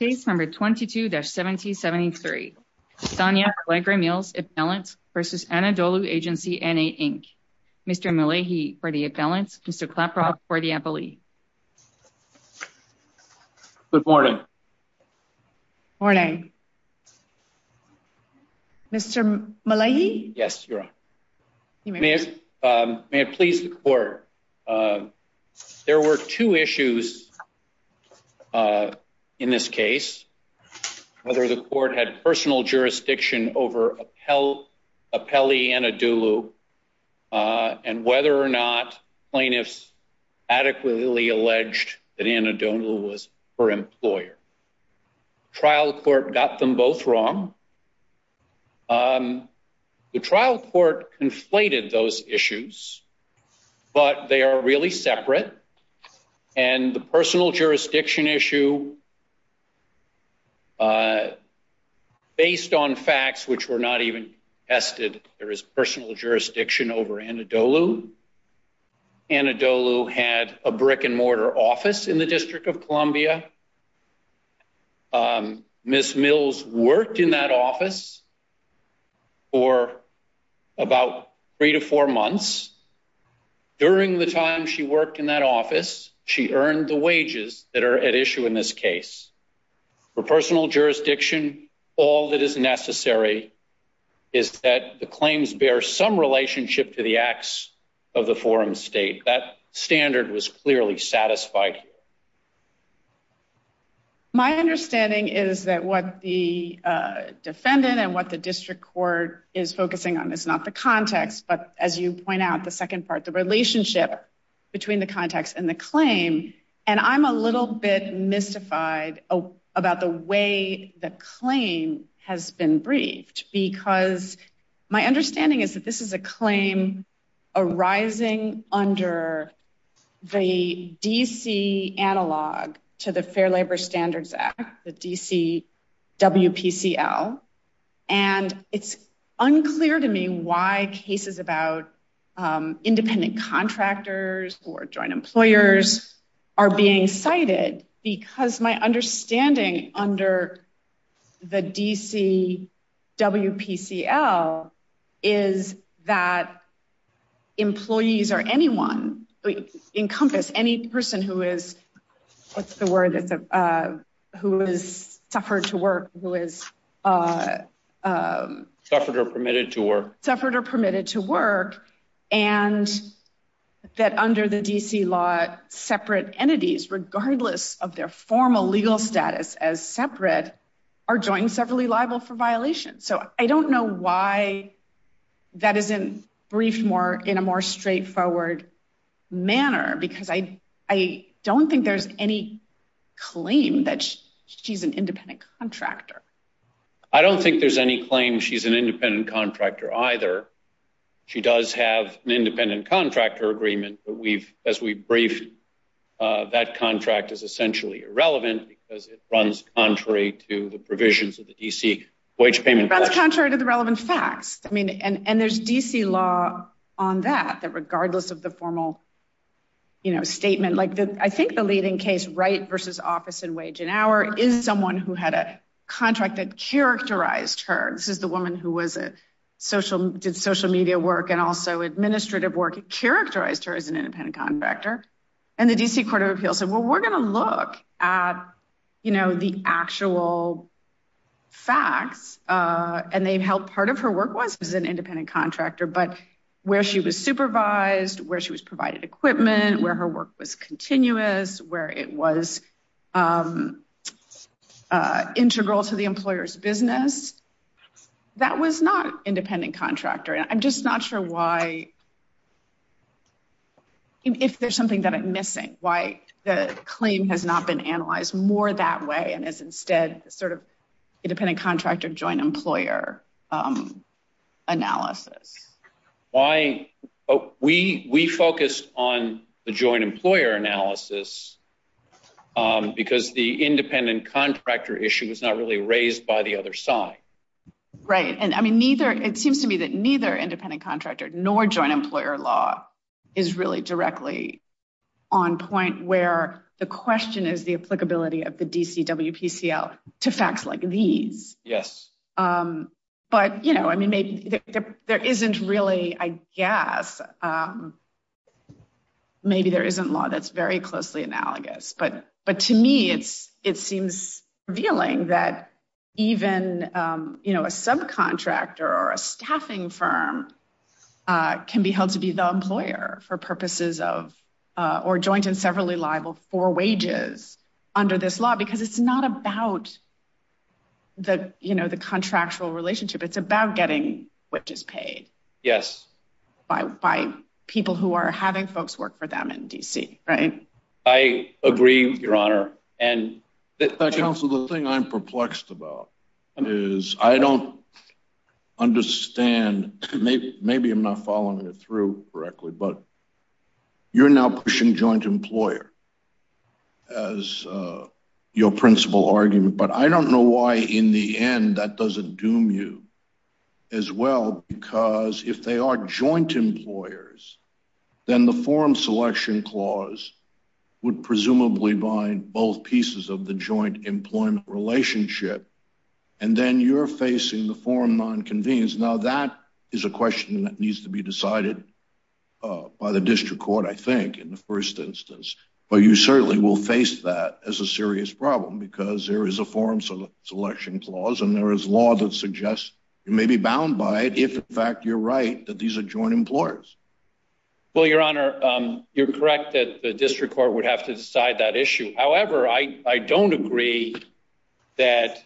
Case number 22-1773. Tanya Allegra Mills, Appellants, versus Anadolu Agency NA, Inc. Mr. Malahi for the appellants, Mr. Klapra for the appellee. Good morning. Morning. Mr. Malahi? Yes, Your Honor. You may begin. May it please the court. There were two issues in this case, whether the court had personal jurisdiction over appellee Anadolu, and whether or not plaintiffs adequately alleged that Anadolu was her employer. Trial court got them both wrong. The trial court conflated those issues, but they are really separate. And the personal jurisdiction issue, based on facts which were not even tested, there is personal jurisdiction over Anadolu. Anadolu had a brick and mortar office in the District of Columbia. Ms. Mills worked in that office for about three to four months. During the time she worked in that office, she earned the wages that are at issue in this case. For personal jurisdiction, all that is necessary is that the claims bear some relationship to the acts of the forum state. That standard was clearly satisfied. My understanding is that what the defendant and what the district court is focusing on is not the context, but as you point out, the second part, the relationship between the context and the claim. And I'm a little bit mystified about the way the claim has been briefed, because my understanding is that this is a claim arising under the DC analog to the Fair Labor Standards Act, the DC WPCL. And it's unclear to me why cases about independent contractors or joint employers are being cited, because my understanding under the DC WPCL is that employees or anyone, encompass any person who is, what's the word? Who is suffered to work, who is- Suffered or permitted to work. Suffered or permitted to work, and that under the DC law, separate entities, regardless of their formal legal status as separate, are joined severally liable for violation. So I don't know why that isn't briefed in a more straightforward manner, because I don't think there's any claim that she's an independent contractor. I don't think there's any claim she's an independent contractor either. She does have an independent contractor agreement, but we've, as we briefed, that contract is essentially irrelevant because it runs contrary to the provisions of the DC wage payment- It runs contrary to the relevant facts. I mean, and there's DC law on that, that regardless of the formal statement, I think the leading case, Wright versus office and wage and hour, is someone who had a contract that characterized her. This is the woman who did social media work and also administrative work, characterized her as an independent contractor. And the DC Court of Appeals said, well, we're gonna look at the actual facts, and they've helped, part of her work was as an independent contractor, but where she was supervised, where she was provided equipment, where her work was continuous, where it was integral to the employer's business, that was not independent contractor. And I'm just not sure why, if there's something that I'm missing, why the claim has not been analyzed more that way and is instead sort of independent contractor joint employer analysis. Why? We focused on the joint employer analysis because the independent contractor issue was not really raised by the other side. Right, and I mean, neither, it seems to me that neither independent contractor nor joint employer law is really directly on point where the question is the applicability of the DCWPCL to facts like these. Yes. But, I mean, maybe there isn't really, I guess, maybe there isn't law that's very closely analogous, but to me, it seems revealing that even a subcontractor or a staffing firm can be held to be the employer for purposes of, or joint and severally liable for wages under this law, because it's not about the contractual relationship, it's about getting wages paid. Yes. By people who are having folks work for them in DC, right? I agree, Your Honor. And- Council, the thing I'm perplexed about is, I don't understand, maybe I'm not following it through correctly, but you're now pushing joint employer as your principal argument, but I don't know why in the end that doesn't doom you as well, because if they are joint employers, then the forum selection clause would presumably bind both pieces of the joint employment relationship, and then you're facing the forum non-convenience. Now, that is a question that needs to be decided by the district court, I think, in the first instance. But you certainly will face that as a serious problem because there is a forum selection clause and there is law that suggests you may be bound by it if in fact, you're right, that these are joint employers. Well, Your Honor, you're correct that the district court would have to decide that issue. However, I don't agree that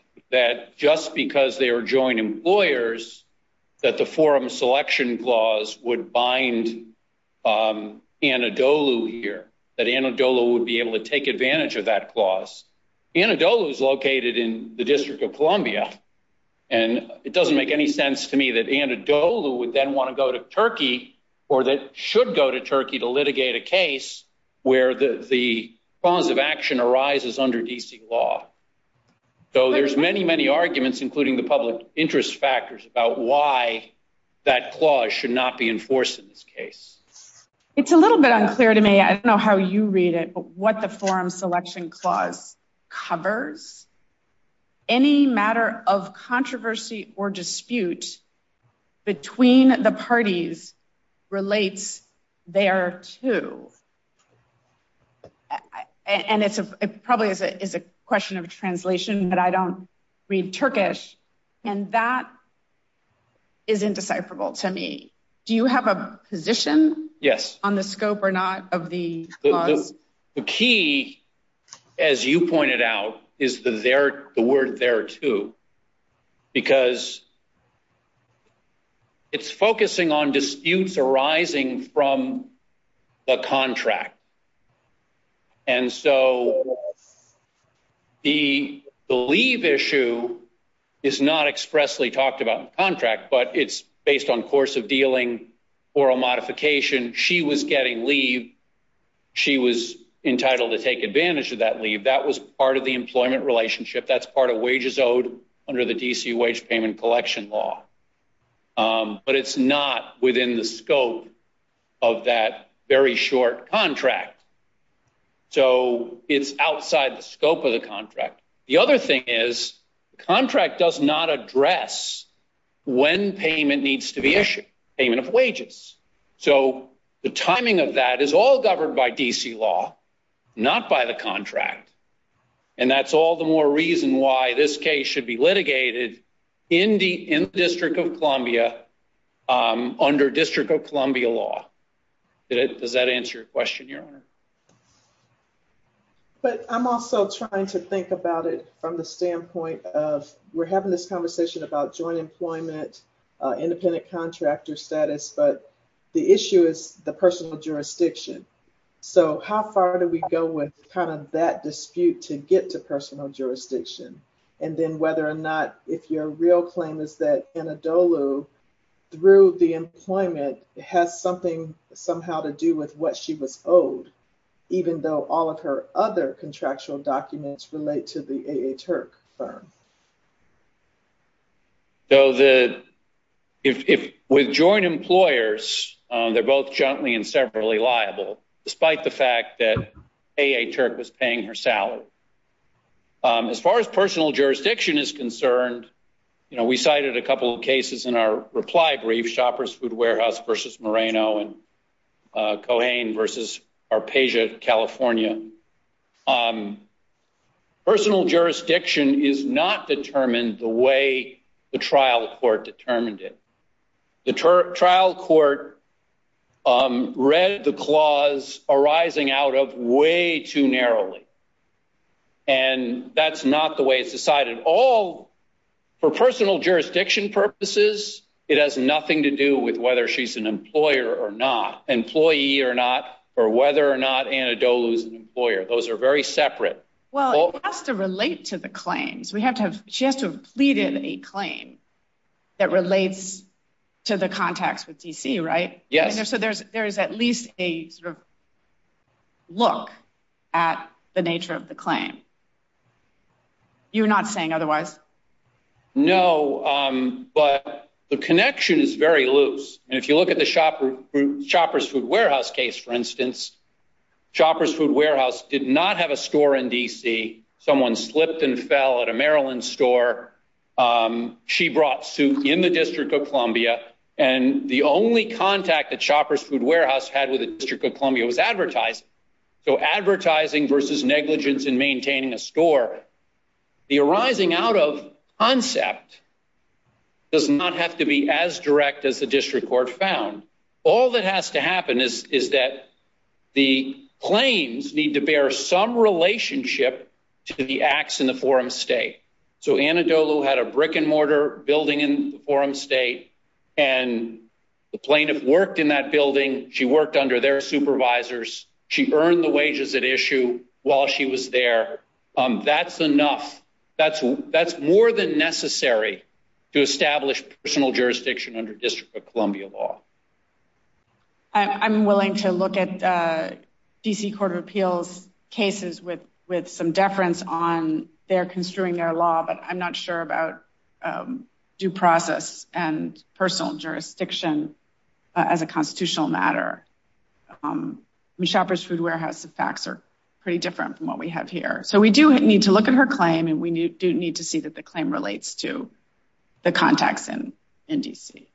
just because they are joint employers, that the forum selection clause would bind Anadolu here, that Anadolu would be able to take advantage of that clause. Anadolu is located in the District of Columbia, and it doesn't make any sense to me that Anadolu would then wanna go to Turkey or that should go to Turkey to litigate a case where the cause of action arises under DC law. Though there's many, many arguments, including the public interest factors about why that clause should not be enforced in this case. It's a little bit unclear to me, I don't know how you read it, but what the forum selection clause covers, any matter of controversy or dispute between the parties relates there too. And it probably is a question of translation that I don't read Turkish, and that is indecipherable to me. Do you have a position? Yes. On the scope or not of the clause? The key, as you pointed out, is the word there too, because it's focusing on disputes arising from the contract. And so the leave issue is not expressly talked about in the contract, but it's based on course of dealing or a modification. She was getting leave. She was entitled to take advantage of that leave. That was part of the employment relationship. That's part of wages owed under the DC wage payment collection law. But it's not within the scope of that very short contract. So it's outside the scope of the contract. The other thing is the contract does not address when payment needs to be issued, payment of wages. So the timing of that is all governed by DC law, not by the contract. And that's all the more reason why this case should be litigated in the District of Columbia under District of Columbia law. Does that answer your question, Your Honor? But I'm also trying to think about it from the standpoint of we're having this conversation about joint employment, independent contractor status, but the issue is the personal jurisdiction. So how far do we go with kind of that dispute to get to personal jurisdiction? And then whether or not if your real claim is that Anadolu through the employment has something somehow to do with what she was owed, even though all of her other contractual documents relate to the A.H. Herc firm. So if with joint employers, they're both jointly and severally liable, despite the fact that A.H. Herc was paying her salary. As far as personal jurisdiction is concerned, we cited a couple of cases in our reply brief, Shoppers Food Warehouse versus Moreno and Cohen versus Arpegia, California. Personal jurisdiction is not determined the way the trial court determined it. The trial court read the clause arising out of way too narrowly. And that's not the way it's decided. All for personal jurisdiction purposes, it has nothing to do with whether she's an employer or not, employee or not, or whether or not Anadolu is an employer. Those are very separate. Well, it has to relate to the claims. She has to have pleaded a claim that relates to the contacts with D.C., right? Yes. So there's at least a sort of look at the nature of the claim. You're not saying otherwise? No, but the connection is very loose. And if you look at the Shoppers Food Warehouse case, for instance, Shoppers Food Warehouse did not have a store in D.C. Someone slipped and fell at a Maryland store. She brought soup in the District of Columbia. And the only contact that Shoppers Food Warehouse had with the District of Columbia was advertising. So advertising versus negligence in maintaining a store. The arising out of concept does not have to be as direct as the district court found. All that has to happen is that the claims need to bear some relationship to the acts in the forum state. So Anadolu had a brick and mortar building in the forum state, and the plaintiff worked in that building. She worked under their supervisors. She earned the wages at issue while she was there. That's enough. That's more than necessary to establish personal jurisdiction under District of Columbia law. I'm willing to look at D.C. Court of Appeals cases with some deference on their construing their law, but I'm not sure about due process and personal jurisdiction as a constitutional matter. With Shoppers Food Warehouse, the facts are pretty different from what we have here. So we do need to look at her claim, and we do need to see that the claim relates to the contacts in D.C.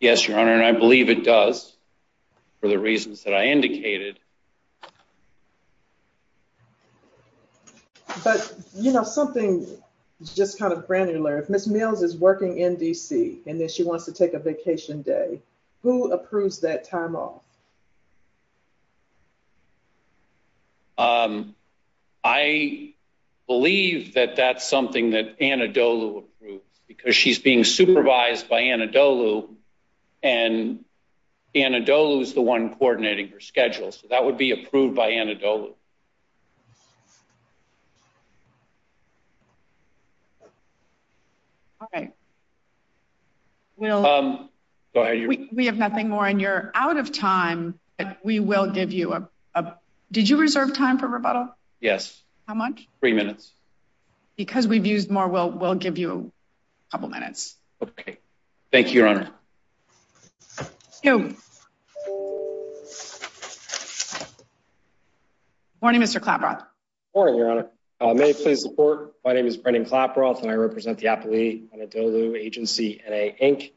Yes, Your Honor, and I believe it does for the reasons that I indicated. But, you know, something just kind of granular. If Ms. Mills is working in D.C. and then she wants to take a vacation day, who approves that time off? I believe that that's something that Anadolu approves because she's being supervised by Anadolu, and Anadolu is the one coordinating her schedule. So that would be approved by Anadolu. Okay. Will- Go ahead, Your Honor. We have nothing more, and you're out of time. We will give you a- Did you reserve time for rebuttal? Yes. How much? Three minutes. Because we've used more, we'll give you a couple minutes. Okay. Thank you, Your Honor. Morning, Mr. Klaproth. Morning, Your Honor. May I please report? My name is Brendan Klaproth, and I represent the appellee, Anadolu Agency, N.A. Inc.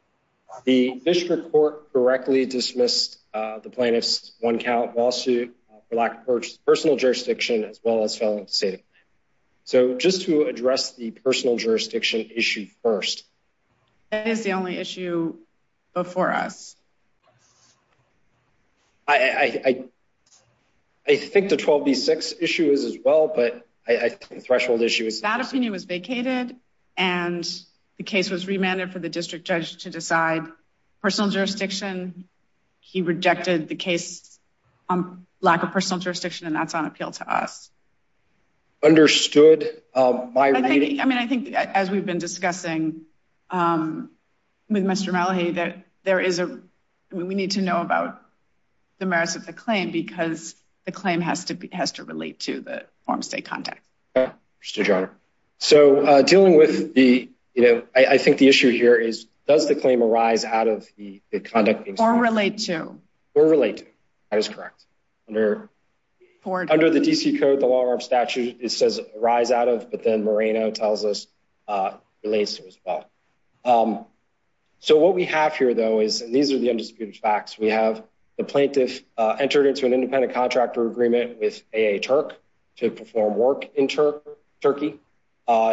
The district court directly dismissed the plaintiff's one count lawsuit for lack of personal jurisdiction, as well as felon status. So just to address the personal jurisdiction issue first. That is the only issue before us. I think the 12B6 issue is as well, but I think the threshold issue is- That opinion was vacated, and the case was remanded for the district judge to decide personal jurisdiction. He rejected the case on lack of personal jurisdiction, and that's on appeal to us. Understood. My reading- I mean, I think as we've been discussing with Mr. Malahy, that there is a, we need to know about the merits of the claim, because the claim has to relate to the form of state contact. Understood, Your Honor. So dealing with the, you know, I think the issue here is, does the claim arise out of the conduct being- Or relate to. Or relate to, that is correct. Under the DC code, the law of armed statutes, it says arise out of, but then Moreno tells us it relates to as well. So what we have here, though, is these are the undisputed facts. We have the plaintiff entered into an independent contractor agreement with AA Turk to perform work in Turkey.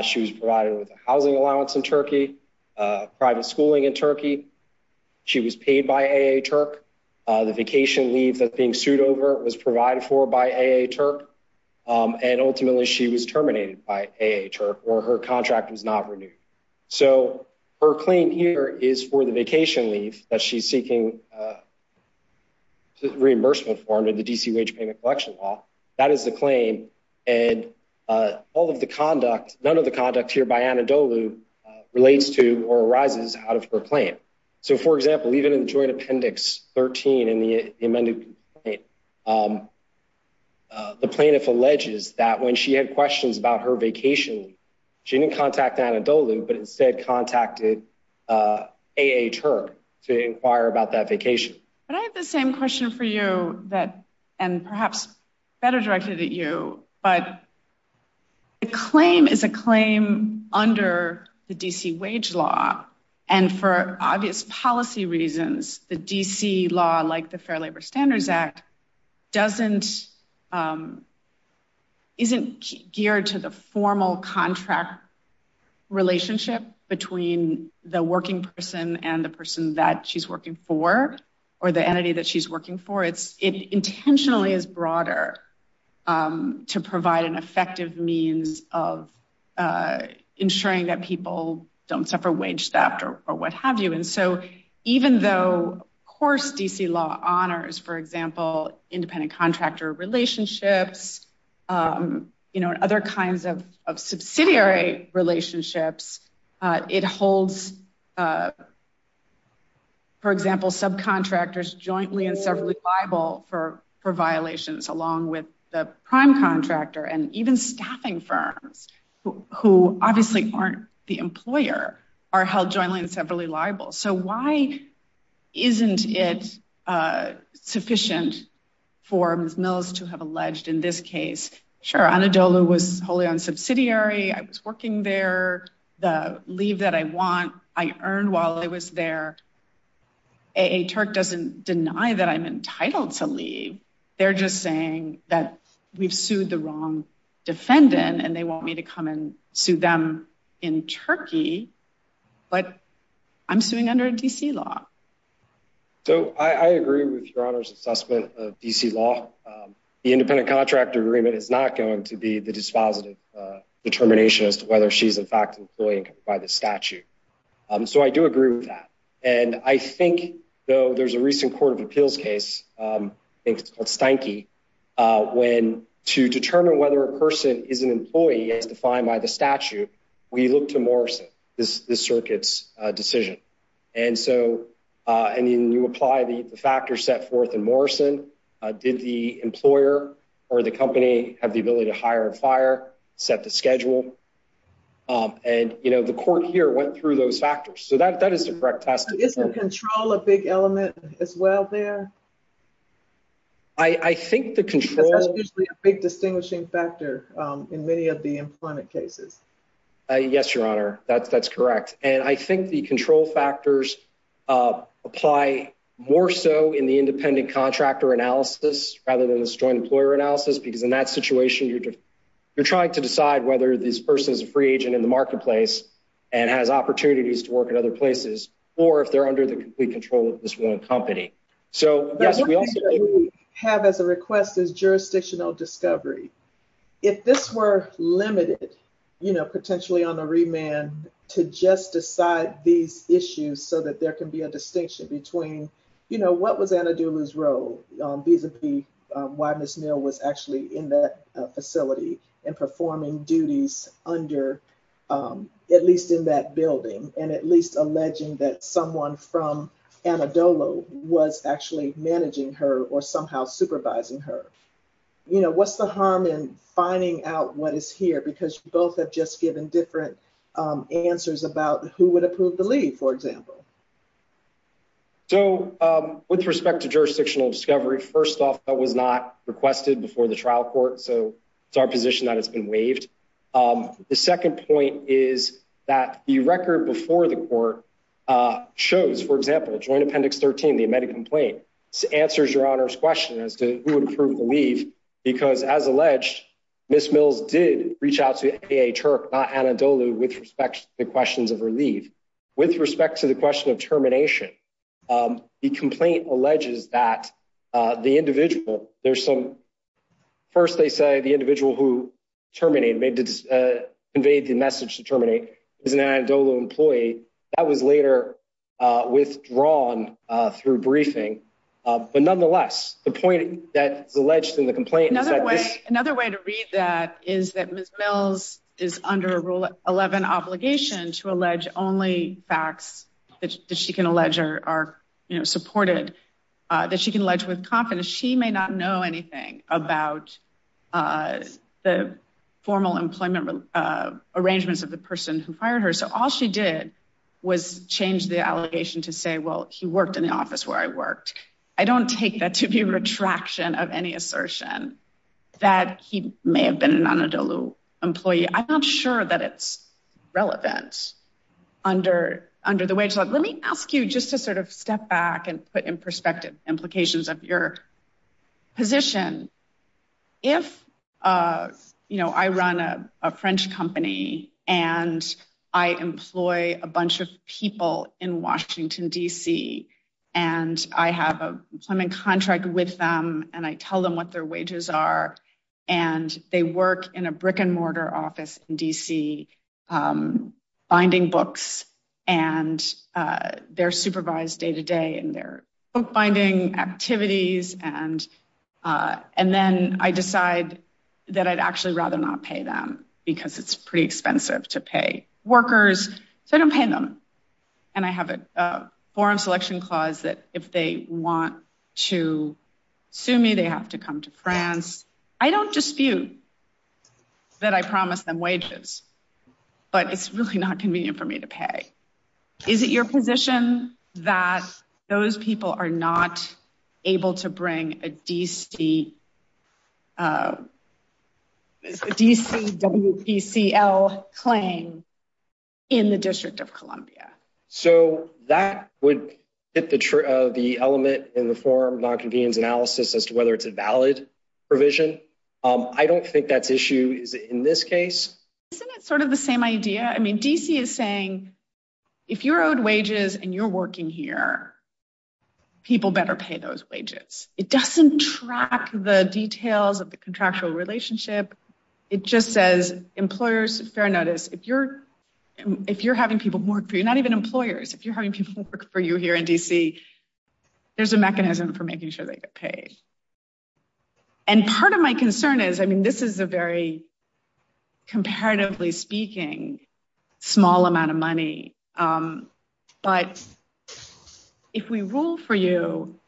She was provided with a housing allowance in Turkey, private schooling in Turkey. She was paid by AA Turk. The vacation leave that's being sued over was provided for by AA Turk. And ultimately she was terminated by AA Turk, or her contract was not renewed. So her claim here is for the vacation leave that she's seeking reimbursement for under the DC wage payment collection law. That is the claim. And all of the conduct, none of the conduct here by Anadolu relates to or arises out of her claim. So for example, even in the joint appendix 13 in the amended complaint, the plaintiff alleges that when she had questions about her vacation leave, she didn't contact Anadolu, but instead contacted AA Turk to inquire about that vacation. But I have the same question for you that, and perhaps better directed at you, but the claim is a claim under the DC wage law. And for obvious policy reasons, the DC law like the Fair Labor Standards Act isn't geared to the formal contract relationship between the working person and the person that she's working for, or the entity that she's working for. It intentionally is broader to provide an effective means of ensuring that people don't suffer wage theft or what have you. And so even though of course DC law honors, for example, independent contractor relationships, other kinds of subsidiary relationships, it holds, for example, subcontractors jointly and separately liable for violations along with the prime contractor and even staffing firms who obviously aren't the employer are held jointly and separately liable. So why isn't it sufficient for Ms. Mills to have alleged in this case, sure Anadolu was wholly on subsidiary, I was working there, the leave that I want, I earned while I was there. AA Turk doesn't deny that I'm entitled to leave. They're just saying that we've sued the wrong defendant and they want me to come and sue them in Turkey, but I'm suing under a DC law. So I agree with your honor's assessment of DC law. The independent contractor agreement is not going to be the dispositive determination as to whether she's in fact employed by the statute. So I do agree with that. And I think though there's a recent court of appeals case, I think it's called Steinke, when to determine whether a person is an employee as defined by the statute, we look to Morrison, this circuit's decision. And so, and then you apply the factors set forth in Morrison did the employer or the company have the ability to hire and fire, set the schedule. And the court here went through those factors. So that is the correct test. Is the control a big element as well there? I think the control- That's usually a big distinguishing factor in many of the employment cases. Yes, your honor, that's correct. And I think the control factors apply more so in the independent contractor analysis rather than this joint employer analysis, because in that situation, you're trying to decide whether this person is a free agent in the marketplace and has opportunities to work in other places or if they're under the complete control of this one company. So yes, we also- But one thing that we have as a request is jurisdictional discovery. If this were limited, potentially on a remand to just decide these issues so that there can be a distinction between, what was Anna Doolou's role vis-a-vis why Ms. Neal was actually in that facility and performing duties under, at least in that building, and at least alleging that someone from Anna Doolou was actually managing her or somehow supervising her. You know, what's the harm in finding out what is here? Because you both have just given different answers about who would approve the leave, for example. So with respect to jurisdictional discovery, first off, that was not requested before the trial court. So it's our position that it's been waived. The second point is that the record before the court shows, for example, Joint Appendix 13, the amended complaint, answers Your Honor's question as to who would approve the leave, because as alleged, Ms. Mills did reach out to AA Turk, not Anna Doolou, with respect to the questions of her leave. With respect to the question of termination, the complaint alleges that the individual, there's some, first they say the individual who terminated, may have conveyed the message to terminate is an Anna Doolou employee. That was later withdrawn through briefing. But nonetheless, the point that is alleged in the complaint is that this- Another way to read that is that Ms. Mills is under Rule 11 obligation to allege only facts that she can allege are supported, that she can allege with confidence. So she may not know anything about the formal employment arrangements of the person who fired her. So all she did was change the allegation to say, well, he worked in the office where I worked. I don't take that to be a retraction of any assertion that he may have been an Anna Doolou employee. I'm not sure that it's relevant under the wage law. Let me ask you just to sort of step back and put in perspective implications of your position. If I run a French company and I employ a bunch of people in Washington, D.C., and I have a employment contract with them and I tell them what their wages are, and they work in a brick and mortar office in D.C., binding books, and they're supervised day-to-day in their book-binding activities, and then I decide that I'd actually rather not pay them because it's pretty expensive to pay workers. So I don't pay them. And I have a forum selection clause that if they want to sue me, they have to come to France. I don't dispute that I promised them wages, but it's really not convenient for me to pay. Is it your position that those people are not able to bring a D.C. WPCL claim in the District of Columbia? So that would hit the element in the forum non-convenience analysis as to whether it's a valid provision. I don't think that's issue in this case. Isn't it sort of the same idea? I mean, D.C. is saying, if you're owed wages and you're working here, people better pay those wages. It doesn't track the details of the contractual relationship. It just says, employers, fair notice, if you're having people work for you, not even employers, if you're having people work for you here in D.C., there's a mechanism for making sure they get paid. And part of my concern is, I mean, this is a very, comparatively speaking, small amount of money, but if we rule for you,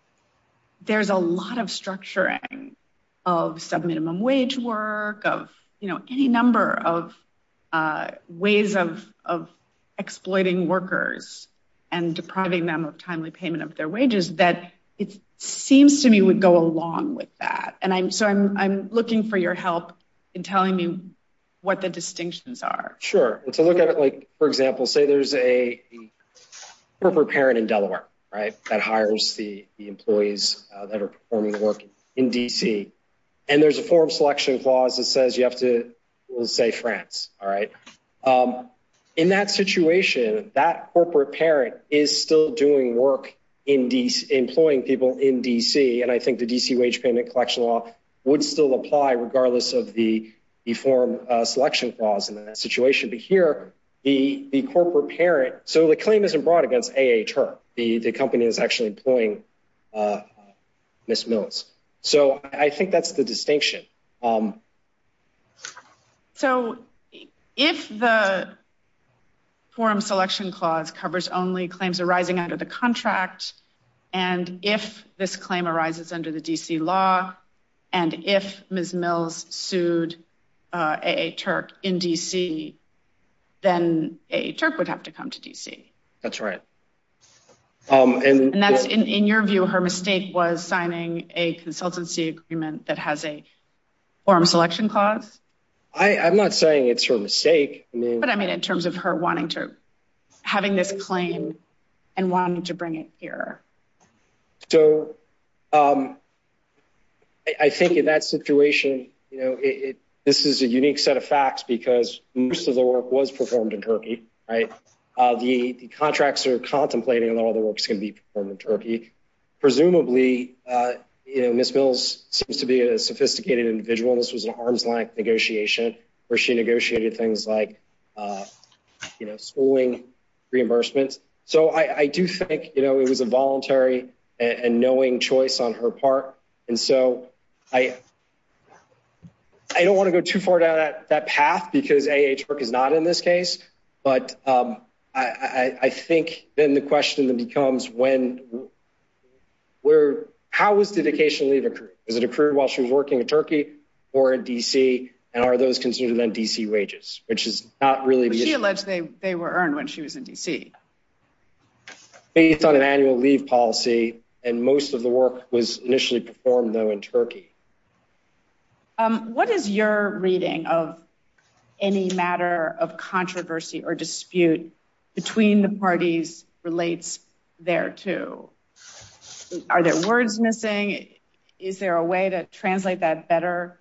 there's a lot of structuring of sub-minimum wage work, of any number of ways of exploiting workers and depriving them of timely payment of their wages that it seems to me would go along with that. And so I'm looking for your help in telling me what the distinctions are. Sure. And to look at it, like, for example, say there's a corporate parent in Delaware, right? That hires the employees that are performing work in D.C. And there's a form selection clause that says you have to, we'll say France, all right? In that situation, that corporate parent is still doing work in employing people in D.C. And I think the D.C. wage payment collection law would still apply regardless of the form selection clause in that situation. But here, the corporate parent, so the claim isn't brought against A.H., her. The company is actually employing Ms. Mills. So I think that's the distinction. So if the form selection clause covers only claims arising out of the contract, and if this claim arises under the D.C. law, and if Ms. Mills sued A.A. Turk in D.C., then A.A. Turk would have to come to D.C. That's right. And that's, in your view, her mistake was signing a consultancy agreement that has a form selection clause? I'm not saying it's her mistake. But I mean, in terms of her wanting to, having this claim and wanting to bring it here. So I think in that situation, this is a unique set of facts because most of the work was performed in Turkey, right? The contracts are contemplating and all the work's gonna be performed in Turkey. Presumably, Ms. Mills seems to be a sophisticated individual and this was an arm's length negotiation where she negotiated things like schooling, reimbursements. So I do think it was a voluntary and knowing choice on her part. And so I don't wanna go too far down that path because A.A. Turk is not in this case, but I think then the question then becomes when, how was dedication leave accrued? Is it accrued while she was working in Turkey or in D.C.? And are those considered then D.C. wages, which is not really the issue. She alleged they were earned when she was in D.C. Based on an annual leave policy and most of the work was initially performed though in Turkey. What is your reading of any matter of controversy or dispute between the parties relates there to? Are there words missing? Is there a way to translate that better?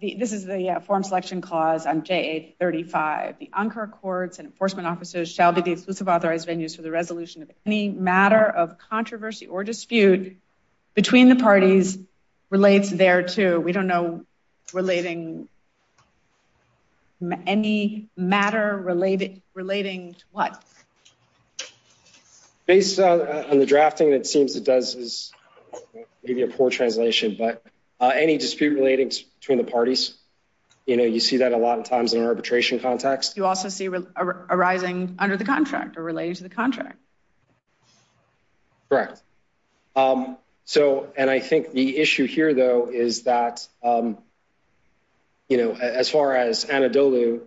This is the form selection clause on J.A. 35. The Ankara courts and enforcement officers shall be the exclusive authorized venues for the resolution of any matter of controversy or dispute between the parties relates there to, we don't know relating any matter relating to what? Based on the drafting that seems it does is maybe a poor translation, but any dispute relating to between the parties, you see that a lot of times in arbitration context. You also see arising under the contract or related to the contract. Correct. So, and I think the issue here though, is that as far as Anadolu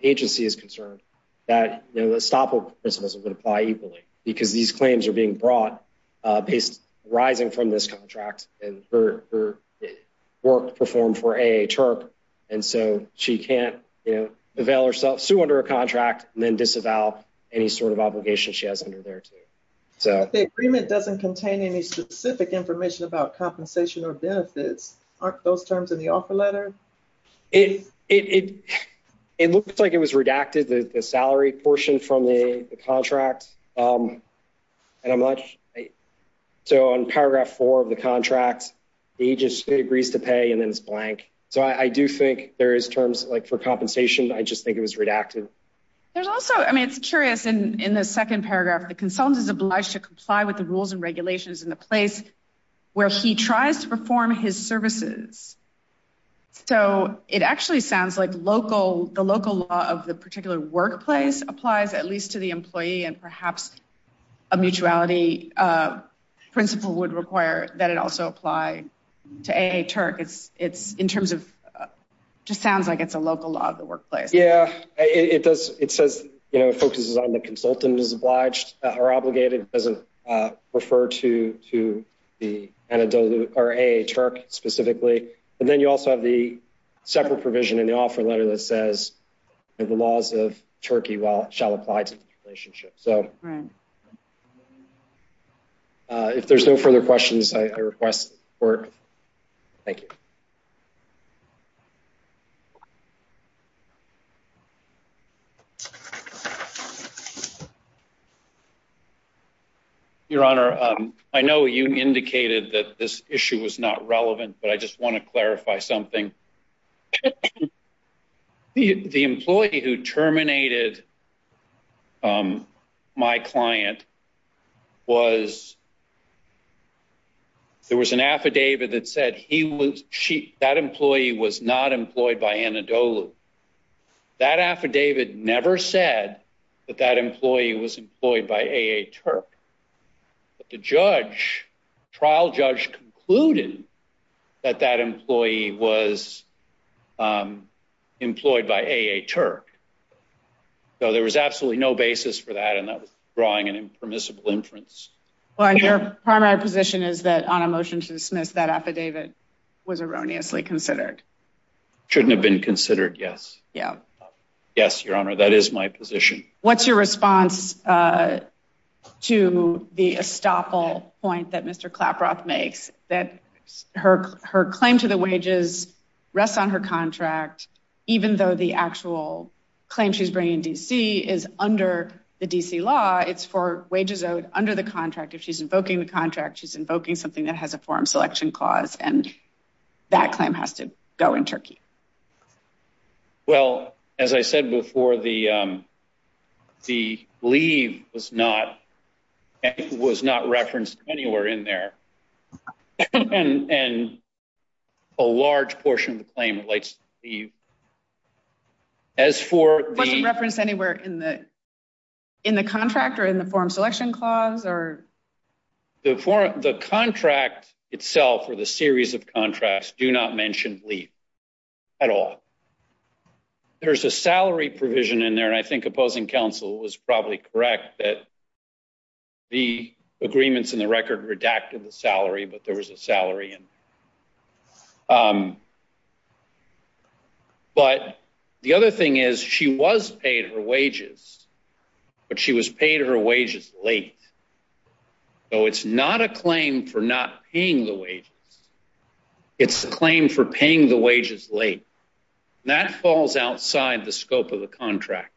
agency is concerned, that the estoppel principles would apply equally because these claims are being brought based arising from this contract and her work performed for AHRQ. And so she can't avail herself, sue under a contract and then disavow any sort of obligation she has under there too. The agreement doesn't contain any specific information about compensation or benefits. Aren't those terms in the offer letter? It looks like it was redacted the salary portion from the contract. Yes. So on paragraph four of the contract, the agency agrees to pay and then it's blank. So I do think there is terms like for compensation. I just think it was redacted. There's also, I mean, it's curious in the second paragraph, the consultant is obliged to comply with the rules and regulations in the place where he tries to perform his services. So it actually sounds like the local law of the particular workplace applies at least to the employee and perhaps a mutuality principle would require that it also apply to AA Turk. It's in terms of, just sounds like it's a local law of the workplace. Yeah, it does. It says, focuses on the consultant is obliged or obligated. It doesn't refer to AA Turk specifically. And then you also have the separate provision in the offer letter that says the laws of Turkey shall apply to the relationship. So if there's no further questions, I request support. Thank you. Your Honor, I know you indicated that this issue was not relevant, but I just want to clarify something. The employee who terminated my client was, there was an affidavit that said he was, that employee was not employed by Anadolu. That affidavit never said that that employee was employed by AA Turk. But the judge, trial judge concluded that that employee was employed by AA Turk. So there was absolutely no basis for that. And that was drawing an impermissible inference. Well, and your primary position is that on a motion to dismiss that affidavit was erroneously considered. Shouldn't have been considered, yes. Yeah. Yes, Your Honor, that is my position. What's your response to the estoppel point that Mr. Claproth makes, that her claim to the wages rests on her contract, even though the actual claim she's bringing in D.C. is under the D.C. law, it's for wages owed under the contract. If she's invoking the contract, she's invoking something that has a forum selection clause, and that claim has to go in Turkey. Well, as I said before, the leave was not referenced anywhere. There's a salary provision in there. And a large portion of the claim relates to leave. As for the- Wasn't referenced anywhere in the contract or in the forum selection clause or? The contract itself or the series of contracts do not mention leave at all. There's a salary provision in there. And I think opposing counsel was probably correct that the agreements in the record redacted the salary, but there was a salary in. But the other thing is she was paid her wages, but she was paid her wages late. So it's not a claim for not paying the wages. It's a claim for paying the wages late. That falls outside the scope of the contract.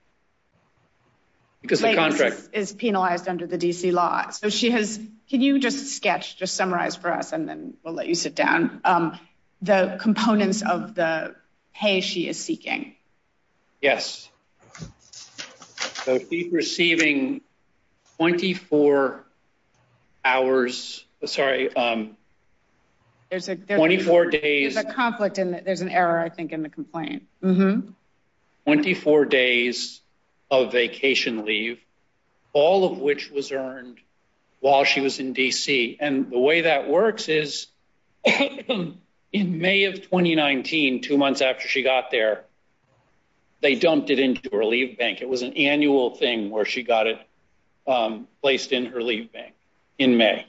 Because the contract- Is penalized under the DC law. So she has, can you just sketch, just summarize for us, and then we'll let you sit down, the components of the pay she is seeking? Yes. So she's receiving 24 hours, sorry, 24 days. There's a conflict in that. There's an error, I think, in the complaint. 24 days of vacation leave, all of which was earned while she was in DC. And the way that works is in May of 2019, two months after she got there, they dumped it into her leave bank. It was an annual thing where she got it placed in her leave bank in May.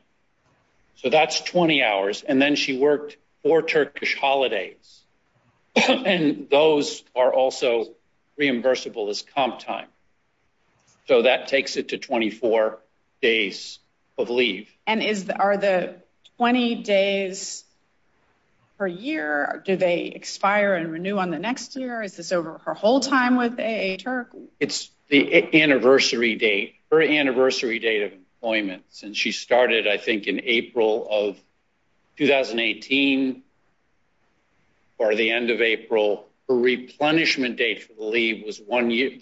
So that's 20 hours. And then she worked four Turkish holidays. And those are also reimbursable as comp time. So that takes it to 24 days of leave. And are the 20 days per year, do they expire and renew on the next year? Is this over her whole time with AA Turk? It's the anniversary date, her anniversary date of employment. And she started, I think, in April of 2018. Or the end of April. Her replenishment date for the leave was the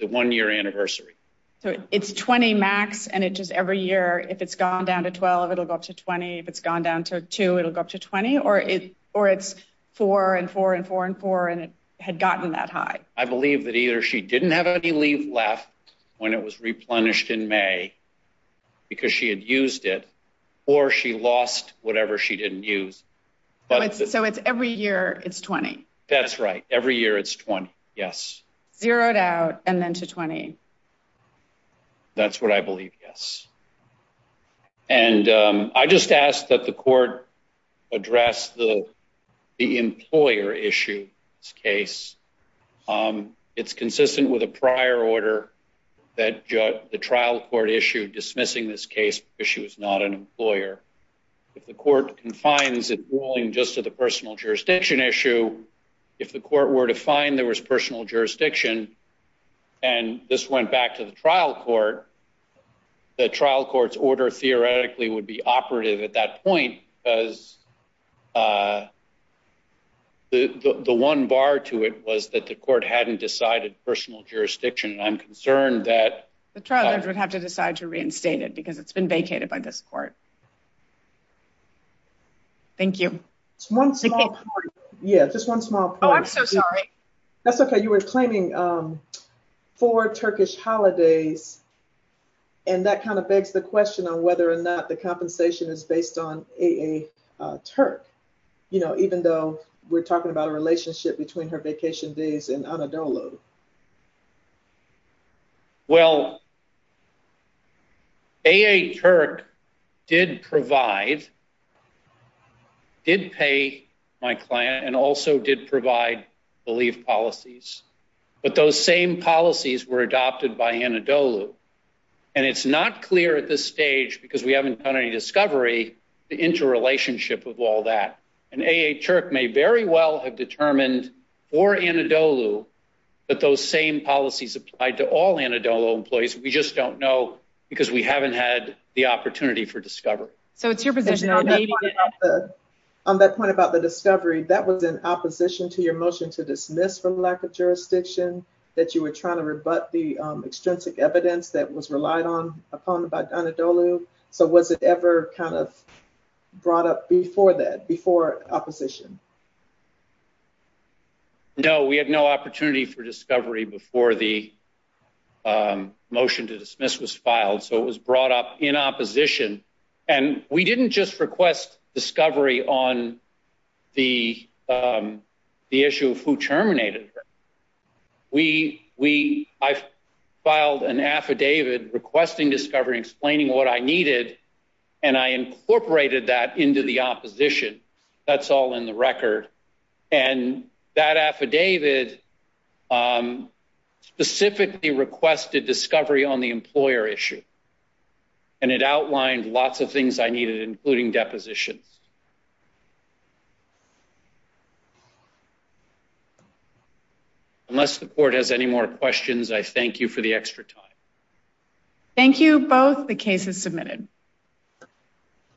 one year anniversary. So it's 20 max, and it just every year, if it's gone down to 12, it'll go up to 20. If it's gone down to two, it'll go up to 20. Or it's four and four and four and four, and it had gotten that high. I believe that either she didn't have any leave left when it was replenished in May, because she had used it, or she lost whatever she didn't use. So it's every year, it's 20. That's right. Every year, it's 20, yes. Zeroed out, and then to 20. That's what I believe, yes. And I just asked that the court address the employer issue, this case. It's consistent with a prior order that the trial court issued dismissing this case because she was not an employer. If the court confines its ruling just to the personal jurisdiction issue, if the court were to find there was personal jurisdiction, and this went back to the trial court, the trial court's order theoretically would be operative at that point, because the one bar to it was that the court hadn't decided personal jurisdiction, and I'm concerned that- The trial judge would have to decide to reinstate it, because it's been vacated by this court. Thank you. Just one small point. Yeah, just one small point. Oh, I'm so sorry. That's okay. You were claiming four Turkish holidays, and that kind of begs the question on whether or not the compensation is based on AA Turk, even though we're talking about a relationship between her vacation days in Anadolu. Well, AA Turk did provide, did pay my client, and also did provide the leave policies, but those same policies were adopted by Anadolu, and it's not clear at this stage, because we haven't done any discovery, the interrelationship of all that, and AA Turk may very well have determined for Anadolu that those same policies applied to all Anadolu employees. We just don't know, because we haven't had the opportunity for discovery. So it's your position on that. On that point about the discovery, that was in opposition to your motion to dismiss for lack of jurisdiction, that you were trying to rebut the extrinsic evidence that was relied upon by Anadolu. So was it ever kind of brought up before that, before opposition? No, we had no opportunity for discovery before the motion to dismiss was filed. So it was brought up in opposition, and we didn't just request discovery on the issue of who terminated her. We, I filed an affidavit requesting discovery, explaining what I needed, and I incorporated that into the opposition. That's all in the record. And that affidavit specifically requested discovery on the employer issue. And it outlined lots of things I needed, including depositions. Unless the court has any more questions, I thank you for the extra time. Thank you both, the case is submitted.